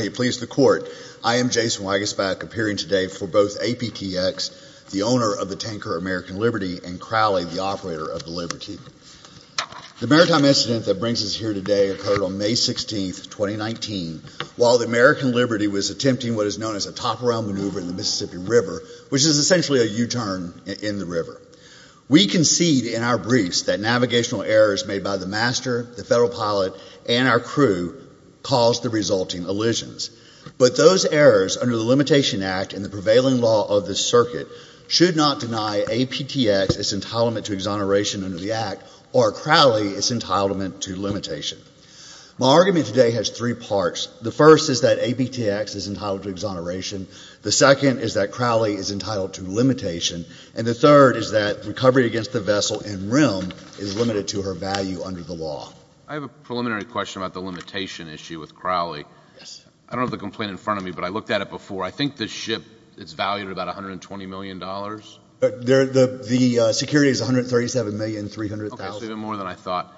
I am Jason Wagaspak, appearing today for both APTX, the owner of the Tanker American Liberty, and Crowley, the operator of the Liberty. The maritime incident that brings us here today occurred on May 16, 2019, while the American Liberty was attempting what is known as a top-around maneuver in the Mississippi River, which is essentially a U-turn in the river. We concede in our briefs that navigational errors made by the master, the federal pilot, and our crew caused the resulting elisions. But those errors under the Limitation Act and the prevailing law of the circuit should not deny APTX its entitlement to exoneration under the Act, or Crowley its entitlement to limitation. My argument today has three parts. The first is that APTX is entitled to exoneration. The second is that Crowley is entitled to limitation. And the third is that recovery against the vessel in rim is limited to her value under the law. I have a preliminary question about the limitation issue with Crowley. I don't have the complaint in front of me, but I looked at it before. I think the ship is valued at about $120 million. The security is $137,300,000. Okay, so even more than I thought.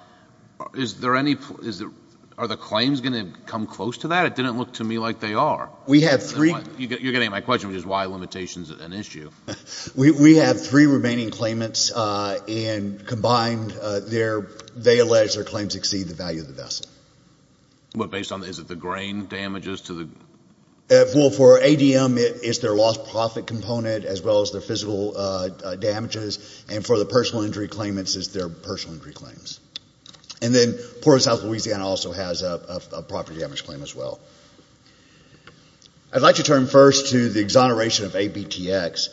Are the claims going to come close to that? It didn't look to me like they are. You're getting at my question, which is why limitation is an issue. We have three remaining claimants, and combined, they allege their claims exceed the value of the vessel. Based on the grain damages? For ADM, it's their lost profit component as well as their physical damages. And for the personal injury claimants, it's their personal injury claims. And then Port of South Louisiana also has a property damage claim as well. I'd like to turn first to the exoneration of APTX.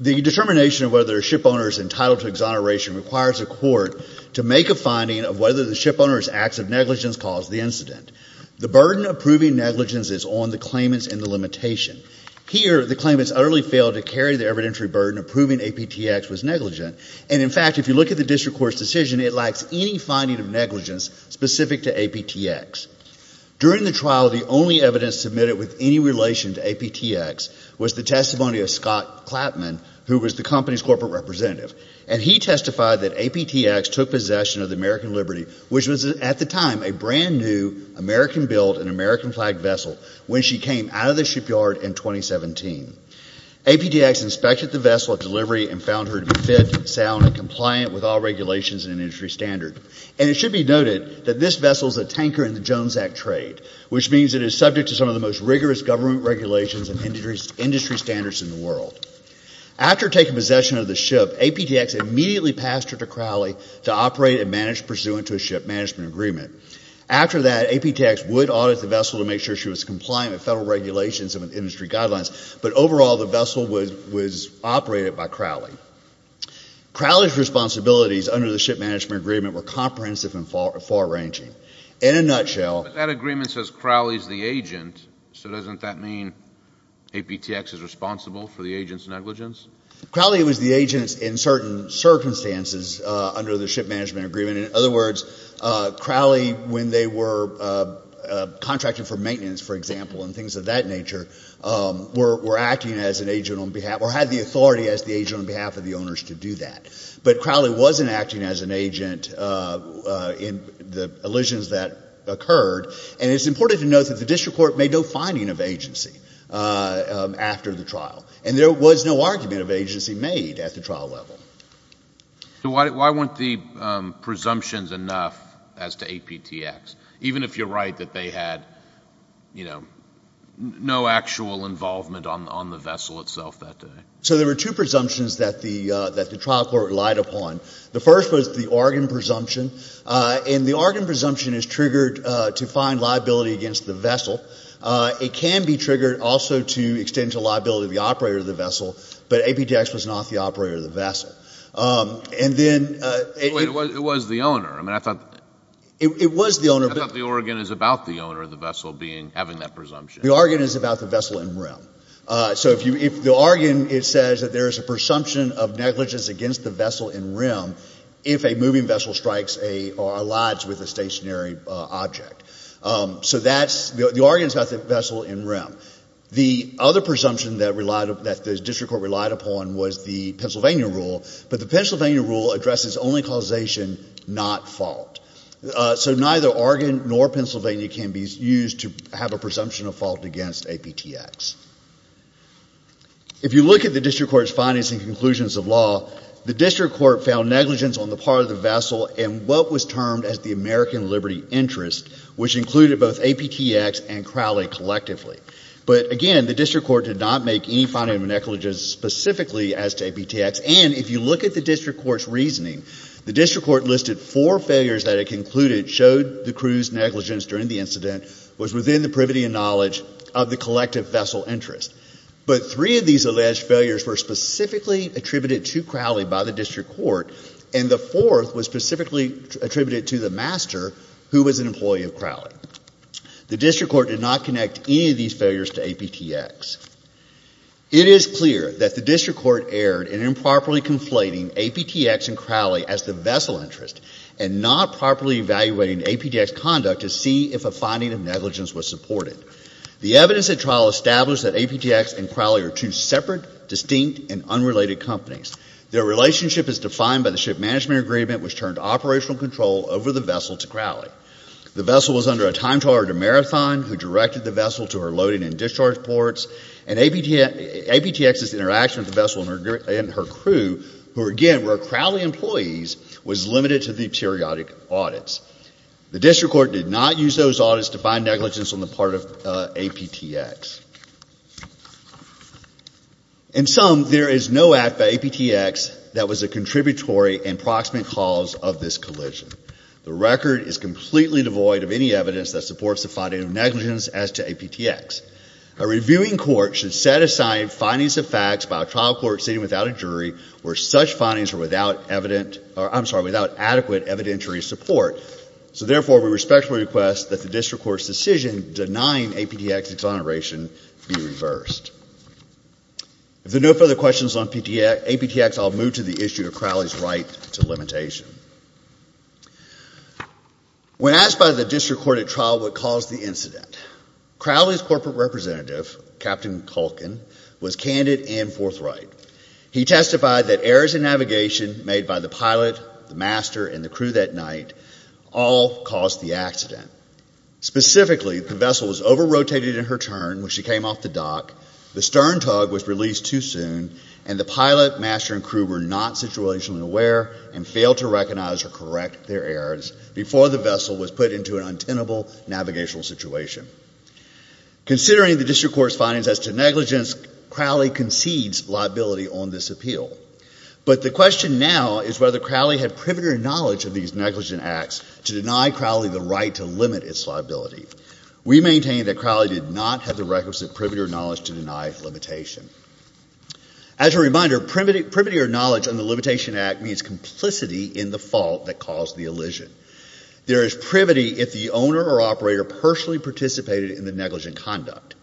The determination of whether a shipowner is entitled to exoneration requires a court to make a finding of whether the shipowner's acts of negligence caused the incident. The burden of proving negligence is on the claimants and the limitation. Here, the claimants utterly failed to carry the evidentiary burden of proving APTX was negligent. And, in fact, if you look at the district court's decision, it lacks any finding of negligence specific to APTX. During the trial, the only evidence submitted with any relation to APTX was the testimony of Scott Clapman, who was the company's corporate representative. And he testified that APTX took possession of the American Liberty, which was, at the time, a brand-new American-built and American-flagged vessel, when she came out of the shipyard in 2017. APTX inspected the vessel at delivery and found her to be fit, sound, and compliant with all regulations and industry standards. And it should be noted that this vessel is a tanker in the Jones Act trade, which means it is subject to some of the most rigorous government regulations and industry standards in the world. After taking possession of the ship, APTX immediately passed her to Crowley to operate and manage pursuant to a ship management agreement. After that, APTX would audit the vessel to make sure she was compliant with federal regulations and industry guidelines, but overall the vessel was operated by Crowley. Crowley's responsibilities under the ship management agreement were comprehensive and far-ranging. In a nutshell... But that agreement says Crowley's the agent, so doesn't that mean APTX is responsible for the agent's negligence? Crowley was the agent in certain circumstances under the ship management agreement. In other words, Crowley, when they were contracted for maintenance, for example, and things of that nature, were acting as an agent on behalf or had the authority as the agent on behalf of the owners to do that. But Crowley wasn't acting as an agent in the elisions that occurred, and it's important to note that the district court made no finding of agency after the trial, and there was no argument of agency made at the trial level. Why weren't the presumptions enough as to APTX, even if you're right that they had no actual involvement on the vessel itself that day? So there were two presumptions that the trial court relied upon. The first was the organ presumption, and the organ presumption is triggered to find liability against the vessel. It can be triggered also to extend to liability the operator of the vessel, but APTX was not the operator of the vessel. And then... It was the owner. I mean, I thought... It was the owner, but... I thought the organ is about the owner of the vessel having that presumption. The organ is about the vessel in realm. So if you... The organ, it says that there is a presumption of negligence against the vessel in realm if a moving vessel strikes or aligns with a stationary object. So that's... The organ is about the vessel in realm. The other presumption that the district court relied upon was the Pennsylvania rule, but the Pennsylvania rule addresses only causation, not fault. So neither organ nor Pennsylvania can be used to have a presumption of fault against APTX. If you look at the district court's findings and conclusions of law, the district court found negligence on the part of the vessel in what was termed as the American liberty interest, which included both APTX and Crowley collectively. But again, the district court did not make any finding of negligence specifically as to APTX, and if you look at the district court's reasoning, the district court listed four failures that it concluded showed the crew's negligence during the incident was within the privity and knowledge of the collective vessel interest. But three of these alleged failures were specifically attributed to Crowley by the district court, and the fourth was specifically attributed to the master who was an employee of Crowley. The district court did not connect any of these failures to APTX. It is clear that the district court erred in improperly conflating APTX and Crowley as the vessel interest and not properly evaluating APTX conduct to see if a finding of negligence was supported. The evidence at trial established that APTX and Crowley are two separate, distinct, and unrelated companies. Their relationship is defined by the ship management agreement, The vessel was under a time trial or demarathon who directed the vessel to her loading and discharge ports, and APTX's interaction with the vessel and her crew, who again were Crowley employees, was limited to the periodic audits. The district court did not use those audits to find negligence on the part of APTX. In sum, there is no act by APTX that was a contributory and proximate cause of this collision. The record is completely devoid of any evidence that supports the finding of negligence as to APTX. A reviewing court should set aside findings of facts by a trial court sitting without a jury where such findings are without adequate evidentiary support. Therefore, we respectfully request that the district court's decision denying APTX exoneration be reversed. If there are no further questions on APTX, I'll move to the issue of Crowley's right to limitation. When asked by the district court at trial what caused the incident, Crowley's corporate representative, Captain Culkin, was candid and forthright. He testified that errors in navigation made by the pilot, the master, and the crew that night all caused the accident. Specifically, the vessel was over-rotated in her turn when she came off the dock, the stern tug was released too soon, and the pilot, master, and crew were not situationally aware and failed to recognize or correct their errors before the vessel was put into an untenable navigational situation. Considering the district court's findings as to negligence, Crowley concedes liability on this appeal. But the question now is whether Crowley had privity or knowledge of these negligent acts to deny Crowley the right to limit its liability. We maintain that Crowley did not have the requisite privity or knowledge to deny limitation. As a reminder, privity or knowledge on the limitation act means complicity in the fault that caused the elision. There is privity if the owner or operator personally participated in the negligent conduct.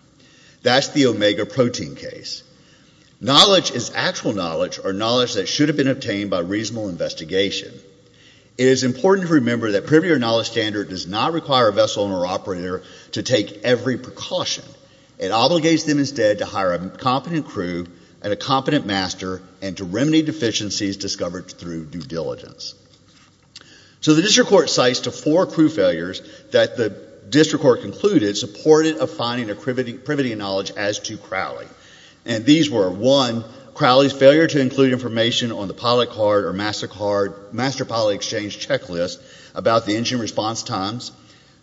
That's the omega protein case. Knowledge is actual knowledge or knowledge that should have been obtained by reasonable investigation. It is important to remember that privity or knowledge standard does not require a vessel owner or operator to take every precaution. It obligates them instead to hire a competent crew and a competent master and to remedy deficiencies discovered through due diligence. So the district court cites the four crew failures that the district court concluded supported a finding of privity or knowledge as to Crowley. And these were, one, Crowley's failure to include information on the pilot card or master pilot exchange checklist about the engine response times.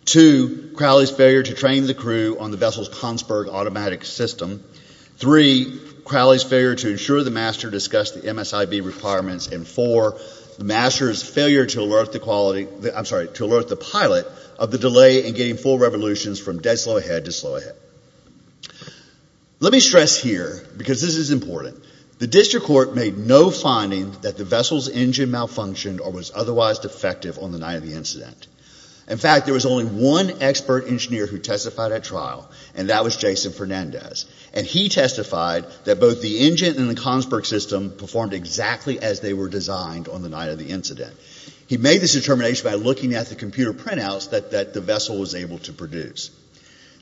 Two, Crowley's failure to train the crew on the vessel's Kongsberg automatic system. Three, Crowley's failure to ensure the master discussed the MSIB requirements. And four, the master's failure to alert the pilot of the delay in getting full revolutions from dead slow ahead to slow ahead. Let me stress here, because this is important, the district court made no finding that the vessel's engine malfunctioned or was otherwise defective on the night of the incident. In fact, there was only one expert engineer who testified at trial, and that was Jason Fernandez. And he testified that both the engine and the Kongsberg system performed exactly as they were designed on the night of the incident. He made this determination by looking at the computer printouts that the vessel was able to produce.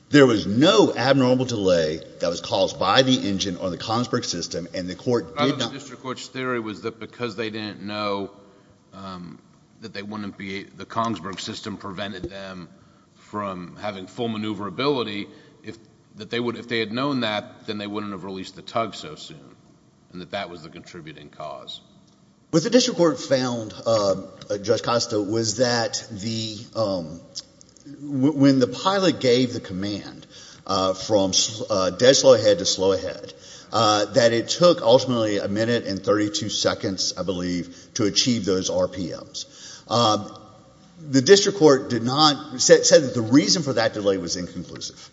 There was no abnormal delay that was caused by the engine on the Kongsberg system, and the court did not. The district court's theory was that because they didn't know that they wouldn't be, the Kongsberg system prevented them from having full maneuverability, that if they had known that, then they wouldn't have released the tug so soon, and that that was the contributing cause. What the district court found, Judge Costa, was that when the pilot gave the command from dead slow ahead to slow ahead, that it took ultimately a minute and 32 seconds, I believe, to achieve those RPMs. The district court said that the reason for that delay was inconclusive.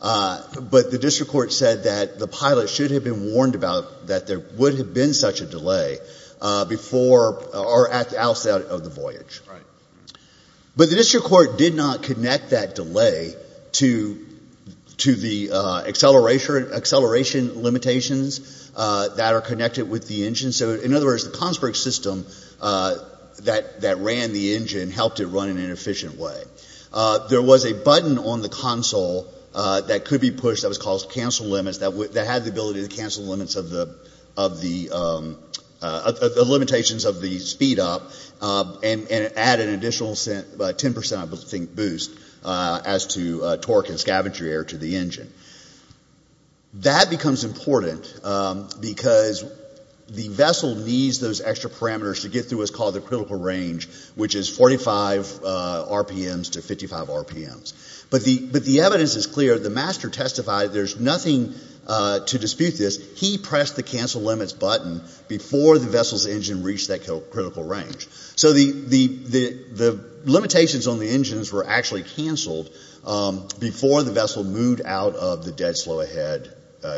But the district court said that the pilot should have been warned about that there would have been such a delay before or outside of the voyage. But the district court did not connect that delay to the acceleration limitations that are connected with the engine. So in other words, the Kongsberg system that ran the engine helped it run in an efficient way. There was a button on the console that could be pushed that was called cancel limits, that had the ability to cancel the limitations of the speed up and add an additional 10 percent, I think, boost as to torque and scavenger air to the engine. That becomes important because the vessel needs those extra parameters to get through what's called the critical range, which is 45 RPMs to 55 RPMs. But the evidence is clear. The master testified there's nothing to dispute this. He pressed the cancel limits button before the vessel's engine reached that critical range. So the limitations on the engines were actually canceled before the vessel moved out of the dead slow ahead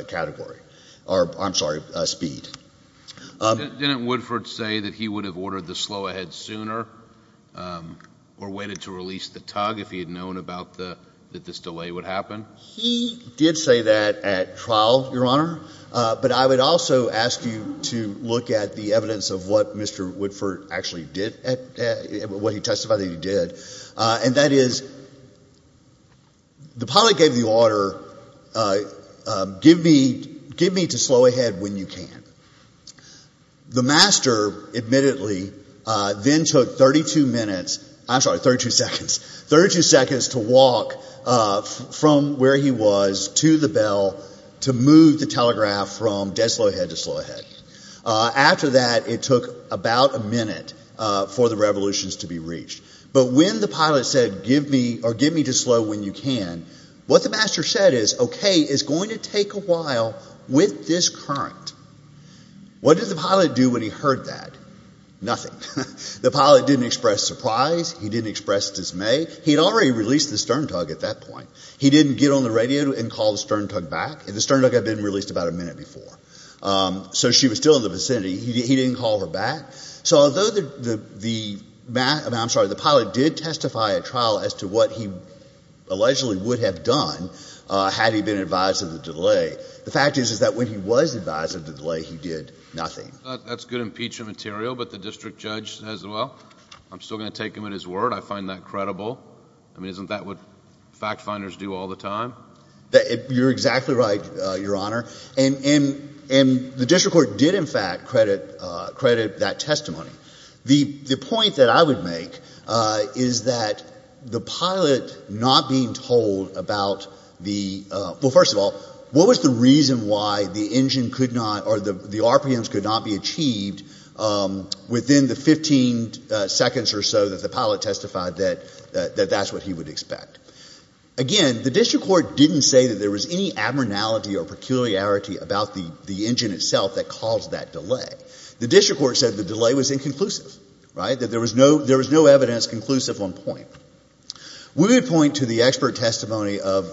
category or, I'm sorry, speed. Didn't Woodford say that he would have ordered the slow ahead sooner or waited to release the tug if he had known about the — that this delay would happen? He did say that at trial, Your Honor. But I would also ask you to look at the evidence of what Mr. Woodford actually did, what he testified that he did. And that is the pilot gave the order, give me to slow ahead when you can. The master, admittedly, then took 32 minutes — I'm sorry, 32 seconds — 32 seconds to walk from where he was to the bell to move the telegraph from dead slow ahead to slow ahead. After that, it took about a minute for the revolutions to be reached. But when the pilot said give me — or give me to slow when you can, what the master said is, okay, it's going to take a while with this current. What did the pilot do when he heard that? Nothing. The pilot didn't express surprise. He didn't express dismay. He had already released the stern tug at that point. He didn't get on the radio and call the stern tug back. The stern tug had been released about a minute before. So she was still in the vicinity. He didn't call her back. So although the pilot did testify at trial as to what he allegedly would have done had he been advised of the delay, the fact is, is that when he was advised of the delay, he did nothing. That's good impeachment material, but the district judge says, well, I'm still going to take him at his word. I find that credible. I mean, isn't that what fact-finders do all the time? You're exactly right, Your Honor. And the district court did, in fact, credit that testimony. The point that I would make is that the pilot not being told about the — well, first of all, what was the reason why the engine could not or the RPMs could not be achieved within the 15 seconds or so that the pilot testified that that's what he would expect? Again, the district court didn't say that there was any abnormality or peculiarity about the engine itself that caused that delay. The district court said the delay was inconclusive, right, that there was no evidence conclusive on point. We would point to the expert testimony of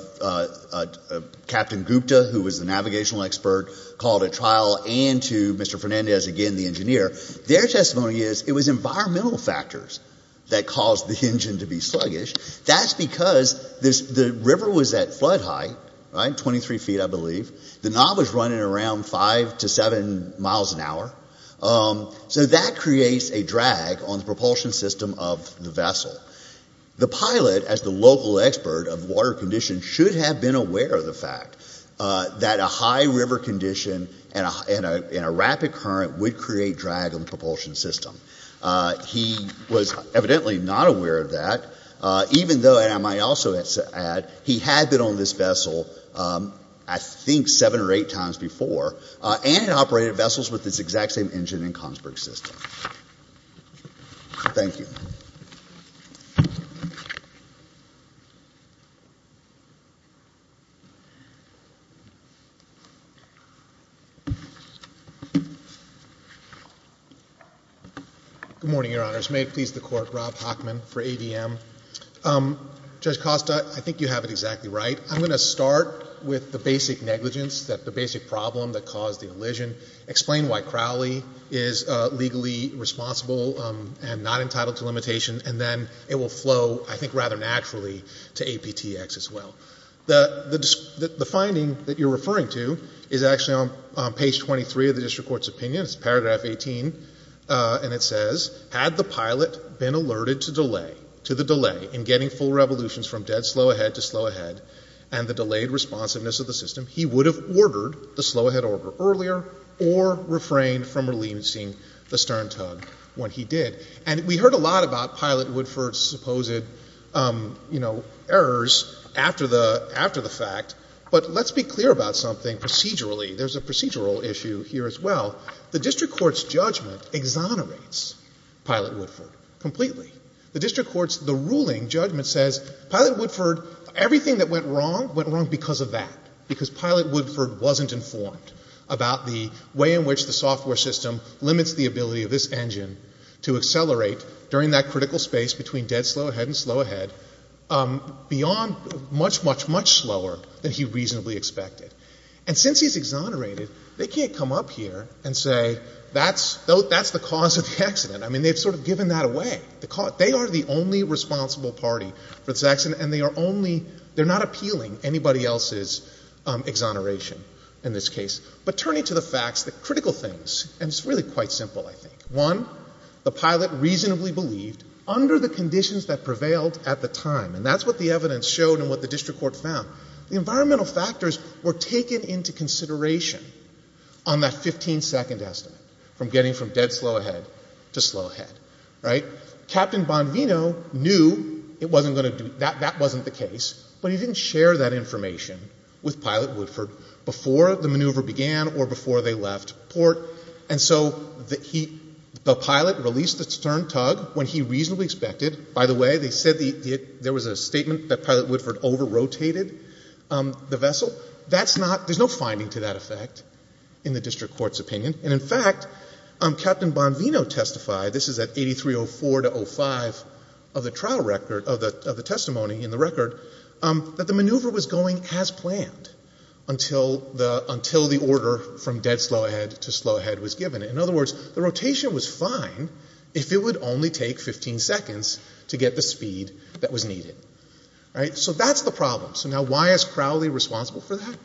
Captain Gupta, who was the navigational expert, called at trial, and to Mr. Fernandez again, the engineer. Their testimony is it was environmental factors that caused the engine to be sluggish. That's because the river was at flood height, right, 23 feet, I believe. The knob was running around 5 to 7 miles an hour. So that creates a drag on the propulsion system of the vessel. The pilot, as the local expert of water conditions, should have been aware of the fact that a high river condition and a rapid current would create drag on the propulsion system. He was evidently not aware of that, even though, and I might also add, he had been on this vessel, I think, seven or eight times before, and had operated vessels with this exact same engine in Kongsberg's system. Thank you. Good morning, Your Honors. May it please the Court, Rob Hockman for AVM. Judge Costa, I think you have it exactly right. I'm going to start with the basic negligence, the basic problem that caused the elision, explain why Crowley is legally responsible and not entitled to limitation, and then it will flow, I think, rather naturally to APTX as well. The finding that you're referring to is actually on page 23 of the district court's opinion. It's paragraph 18, and it says, Had the pilot been alerted to the delay in getting full revolutions from dead slow ahead to slow ahead and the delayed responsiveness of the system, he would have ordered the slow-ahead order earlier or refrained from releasing the stern tug when he did. And we heard a lot about Pilot-Woodford's supposed errors after the fact, but let's be clear about something procedurally. There's a procedural issue here as well. The district court's judgment exonerates Pilot-Woodford completely. The district court's ruling judgment says Pilot-Woodford, everything that went wrong, went wrong because of that, because Pilot-Woodford wasn't informed about the way in which the software system limits the ability of this engine to accelerate during that critical space between dead slow ahead and slow ahead beyond much, much, much slower than he reasonably expected. And since he's exonerated, they can't come up here and say that's the cause of the accident. I mean, they've sort of given that away. They are the only responsible party for this accident, and they're not appealing anybody else's exoneration in this case. But turning to the facts, the critical things, and it's really quite simple, I think. One, the pilot reasonably believed under the conditions that prevailed at the time, and that's what the evidence showed and what the district court found, the environmental factors were taken into consideration on that 15-second estimate from getting from dead slow ahead to slow ahead. Captain Bonvino knew that wasn't the case, but he didn't share that information with Pilot-Woodford before the maneuver began or before they left port. And so the pilot released the stern tug when he reasonably expected. By the way, they said there was a statement that Pilot-Woodford over-rotated the vessel. There's no finding to that effect in the district court's opinion. And in fact, Captain Bonvino testified, this is at 8304-05 of the testimony in the record, that the maneuver was going as planned until the order from dead slow ahead to slow ahead was given. In other words, the rotation was fine if it would only take 15 seconds to get the speed that was needed. So that's the problem. So now why is Crowley responsible for that?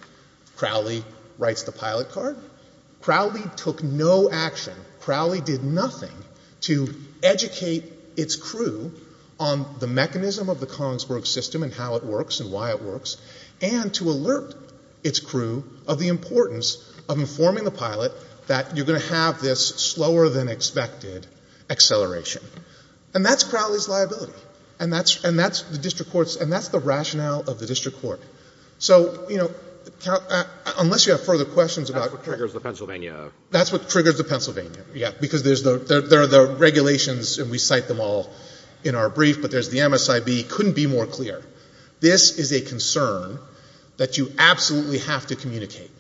Crowley writes the pilot card. Crowley took no action. Crowley did nothing to educate its crew on the mechanism of the Kongsburg system and how it works and why it works and to alert its crew of the importance of informing the pilot that you're going to have this slower-than-expected acceleration. And that's Crowley's liability, and that's the district court's, and that's the rationale of the district court. So, you know, unless you have further questions about — That's what triggers the Pennsylvania. That's what triggers the Pennsylvania, yeah, because there are the regulations, and we cite them all in our brief, but there's the MSIB. It couldn't be more clear. This is a concern that you absolutely have to communicate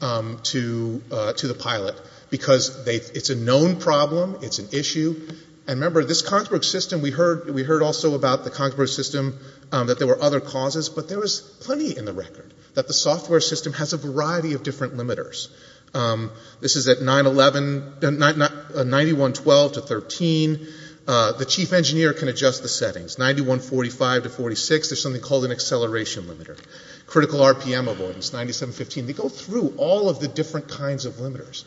to the pilot because it's a known problem. It's an issue. And remember, this Kongsburg system, we heard also about the Kongsburg system, that there were other causes, but there was plenty in the record that the software system has a variety of different limiters. This is at 9-11, 91-12 to 13. The chief engineer can adjust the settings. 91-45 to 46, there's something called an acceleration limiter. Critical RPM avoidance, 97-15. They go through all of the different kinds of limiters,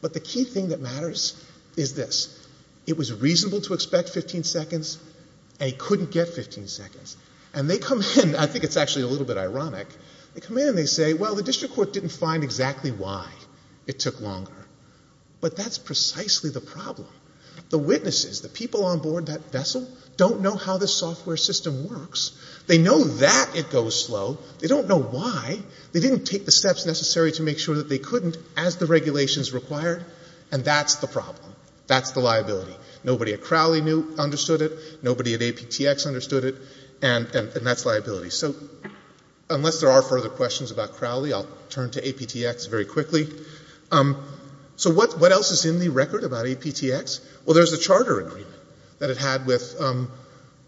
but the key thing that matters is this. It was reasonable to expect 15 seconds, and it couldn't get 15 seconds. And they come in. I think it's actually a little bit ironic. They come in and they say, well, the district court didn't find exactly why it took longer. But that's precisely the problem. The witnesses, the people on board that vessel, don't know how the software system works. They know that it goes slow. They don't know why. They didn't take the steps necessary to make sure that they couldn't as the regulations required, and that's the problem. That's the liability. Nobody at Crowley understood it. Nobody at APTX understood it. And that's liability. So unless there are further questions about Crowley, I'll turn to APTX very quickly. So what else is in the record about APTX? Well, there's a charter agreement that it had with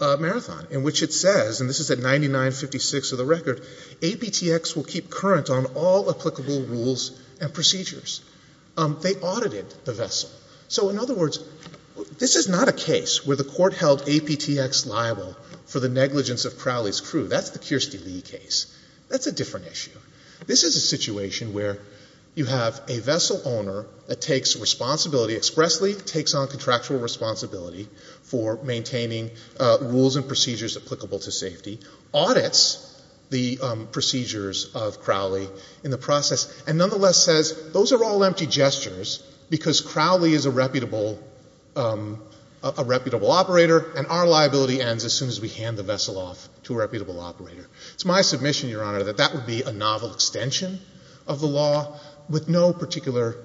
Marathon in which it says, and this is at 99-56 of the record, APTX will keep current on all applicable rules and procedures. They audited the vessel. So in other words, this is not a case where the court held APTX liable for the negligence of Crowley's crew. That's the Kirstie Lee case. That's a different issue. This is a situation where you have a vessel owner that takes responsibility, expressly takes on contractual responsibility, for maintaining rules and procedures applicable to safety, audits the procedures of Crowley in the process, and nonetheless says, those are all empty gestures because Crowley is a reputable operator and our liability ends as soon as we hand the vessel off to a reputable operator. It's my submission, Your Honor, that that would be a novel extension of the law with no particular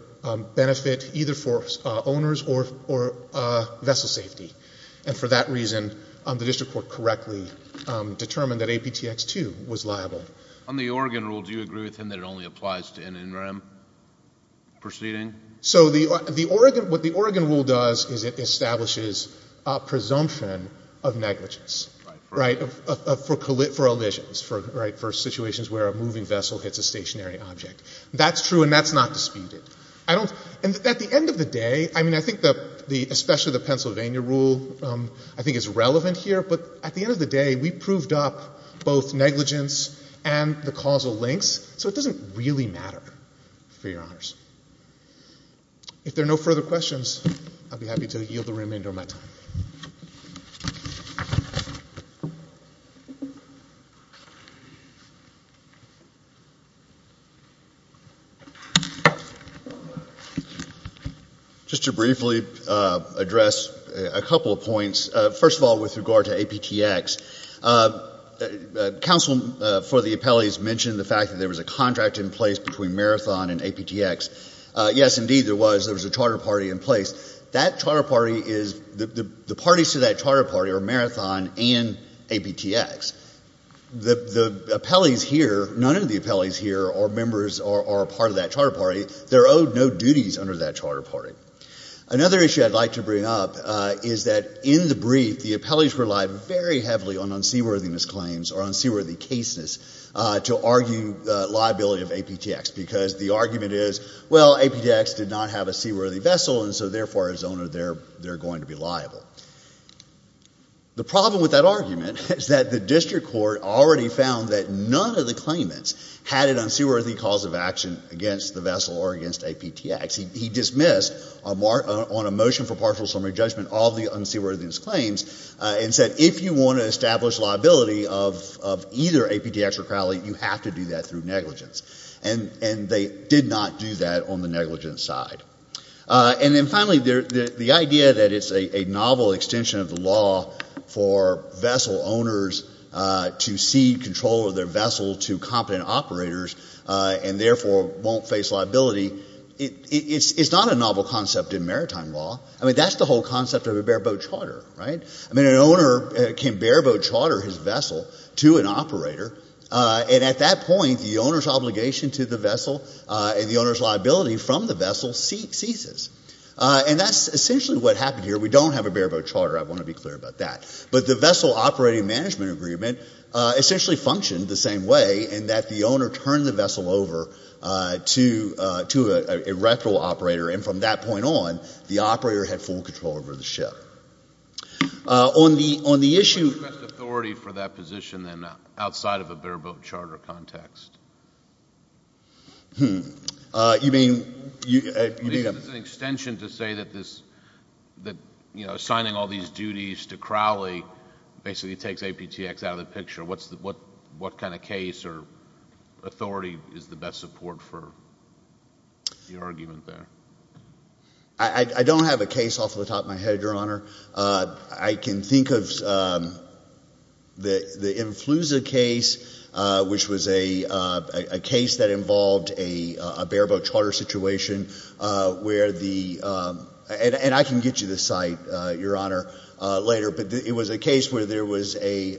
benefit, either for owners or vessel safety. And for that reason, the district court correctly determined that APTX 2 was liable. On the Oregon rule, do you agree with him that it only applies to NNREM proceeding? So what the Oregon rule does is it establishes a presumption of negligence, right, for collisions, right, for situations where a moving vessel hits a stationary object. That's true and that's not disputed. And at the end of the day, I mean, I think especially the Pennsylvania rule I think is relevant here, but at the end of the day, we proved up both negligence and the causal links, so it doesn't really matter for your honors. If there are no further questions, I'll be happy to yield the remainder of my time. Thank you. Just to briefly address a couple of points. First of all, with regard to APTX, counsel for the appellees mentioned the fact that there was a contract in place between Marathon and APTX. Yes, indeed there was. There was a charter party in place. That charter party is the parties to that charter party are Marathon and APTX. The appellees here, none of the appellees here are members or are part of that charter party. They're owed no duties under that charter party. Another issue I'd like to bring up is that in the brief, the appellees relied very heavily on unseaworthiness claims or unseaworthy cases to argue liability of APTX because the argument is, well, we don't have a seaworthy vessel, and so therefore, as owner, they're going to be liable. The problem with that argument is that the district court already found that none of the claimants had an unseaworthy cause of action against the vessel or against APTX. He dismissed on a motion for partial summary judgment all the unseaworthiness claims and said if you want to establish liability of either APTX or Crowley, you have to do that through negligence. And they did not do that on the negligence side. And then finally, the idea that it's a novel extension of the law for vessel owners to cede control of their vessel to competent operators and therefore won't face liability, it's not a novel concept in maritime law. I mean, that's the whole concept of a bareboat charter, right? I mean, an owner can bareboat charter his vessel to an operator, and at that point, the owner's obligation to the vessel and the owner's liability from the vessel ceases. And that's essentially what happened here. We don't have a bareboat charter. I want to be clear about that. But the Vessel Operating Management Agreement essentially functioned the same way in that the owner turned the vessel over to a rectal operator, and from that point on, the operator had full control over the ship. On the issue of— What's the best authority for that position then outside of a bareboat charter context? Hmm. You mean— It's an extension to say that this, you know, signing all these duties to Crowley basically takes APTX out of the picture. What kind of case or authority is the best support for your argument there? I don't have a case off the top of my head, Your Honor. I can think of the Influsa case, which was a case that involved a bareboat charter situation where the— and I can get you the site, Your Honor, later, but it was a case where there was a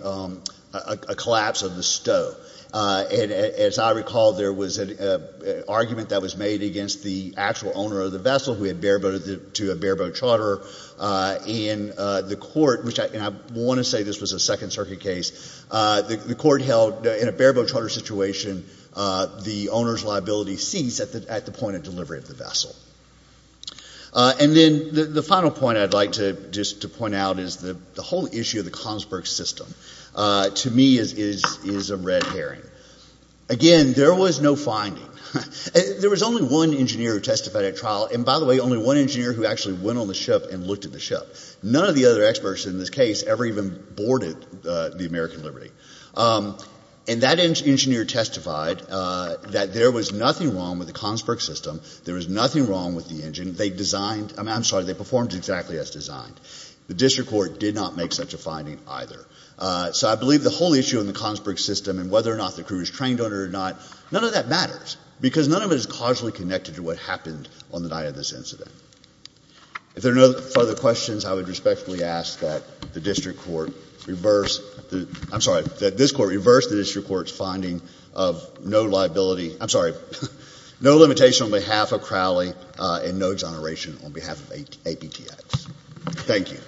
collapse of the stow. And as I recall, there was an argument that was made against the actual owner of the vessel who had bareboated to a bareboat charter. And the court—and I want to say this was a Second Circuit case— the court held in a bareboat charter situation, the owner's liability ceased at the point of delivery of the vessel. And then the final point I'd like to just point out is the whole issue of the Comsburg system to me is a red herring. Again, there was no finding. There was only one engineer who testified at trial, and by the way, only one engineer who actually went on the ship and looked at the ship. None of the other experts in this case ever even boarded the American Liberty. And that engineer testified that there was nothing wrong with the Comsburg system. There was nothing wrong with the engine. They designed—I'm sorry, they performed exactly as designed. The district court did not make such a finding either. So I believe the whole issue in the Comsburg system and whether or not the crew was trained on it or not, none of that matters, because none of it is causally connected to what happened on the night of this incident. If there are no further questions, I would respectfully ask that the district court reverse—I'm sorry, that this court reverse the district court's finding of no liability—I'm sorry, no limitation on behalf of Crowley and no exoneration on behalf of APTX. Thank you.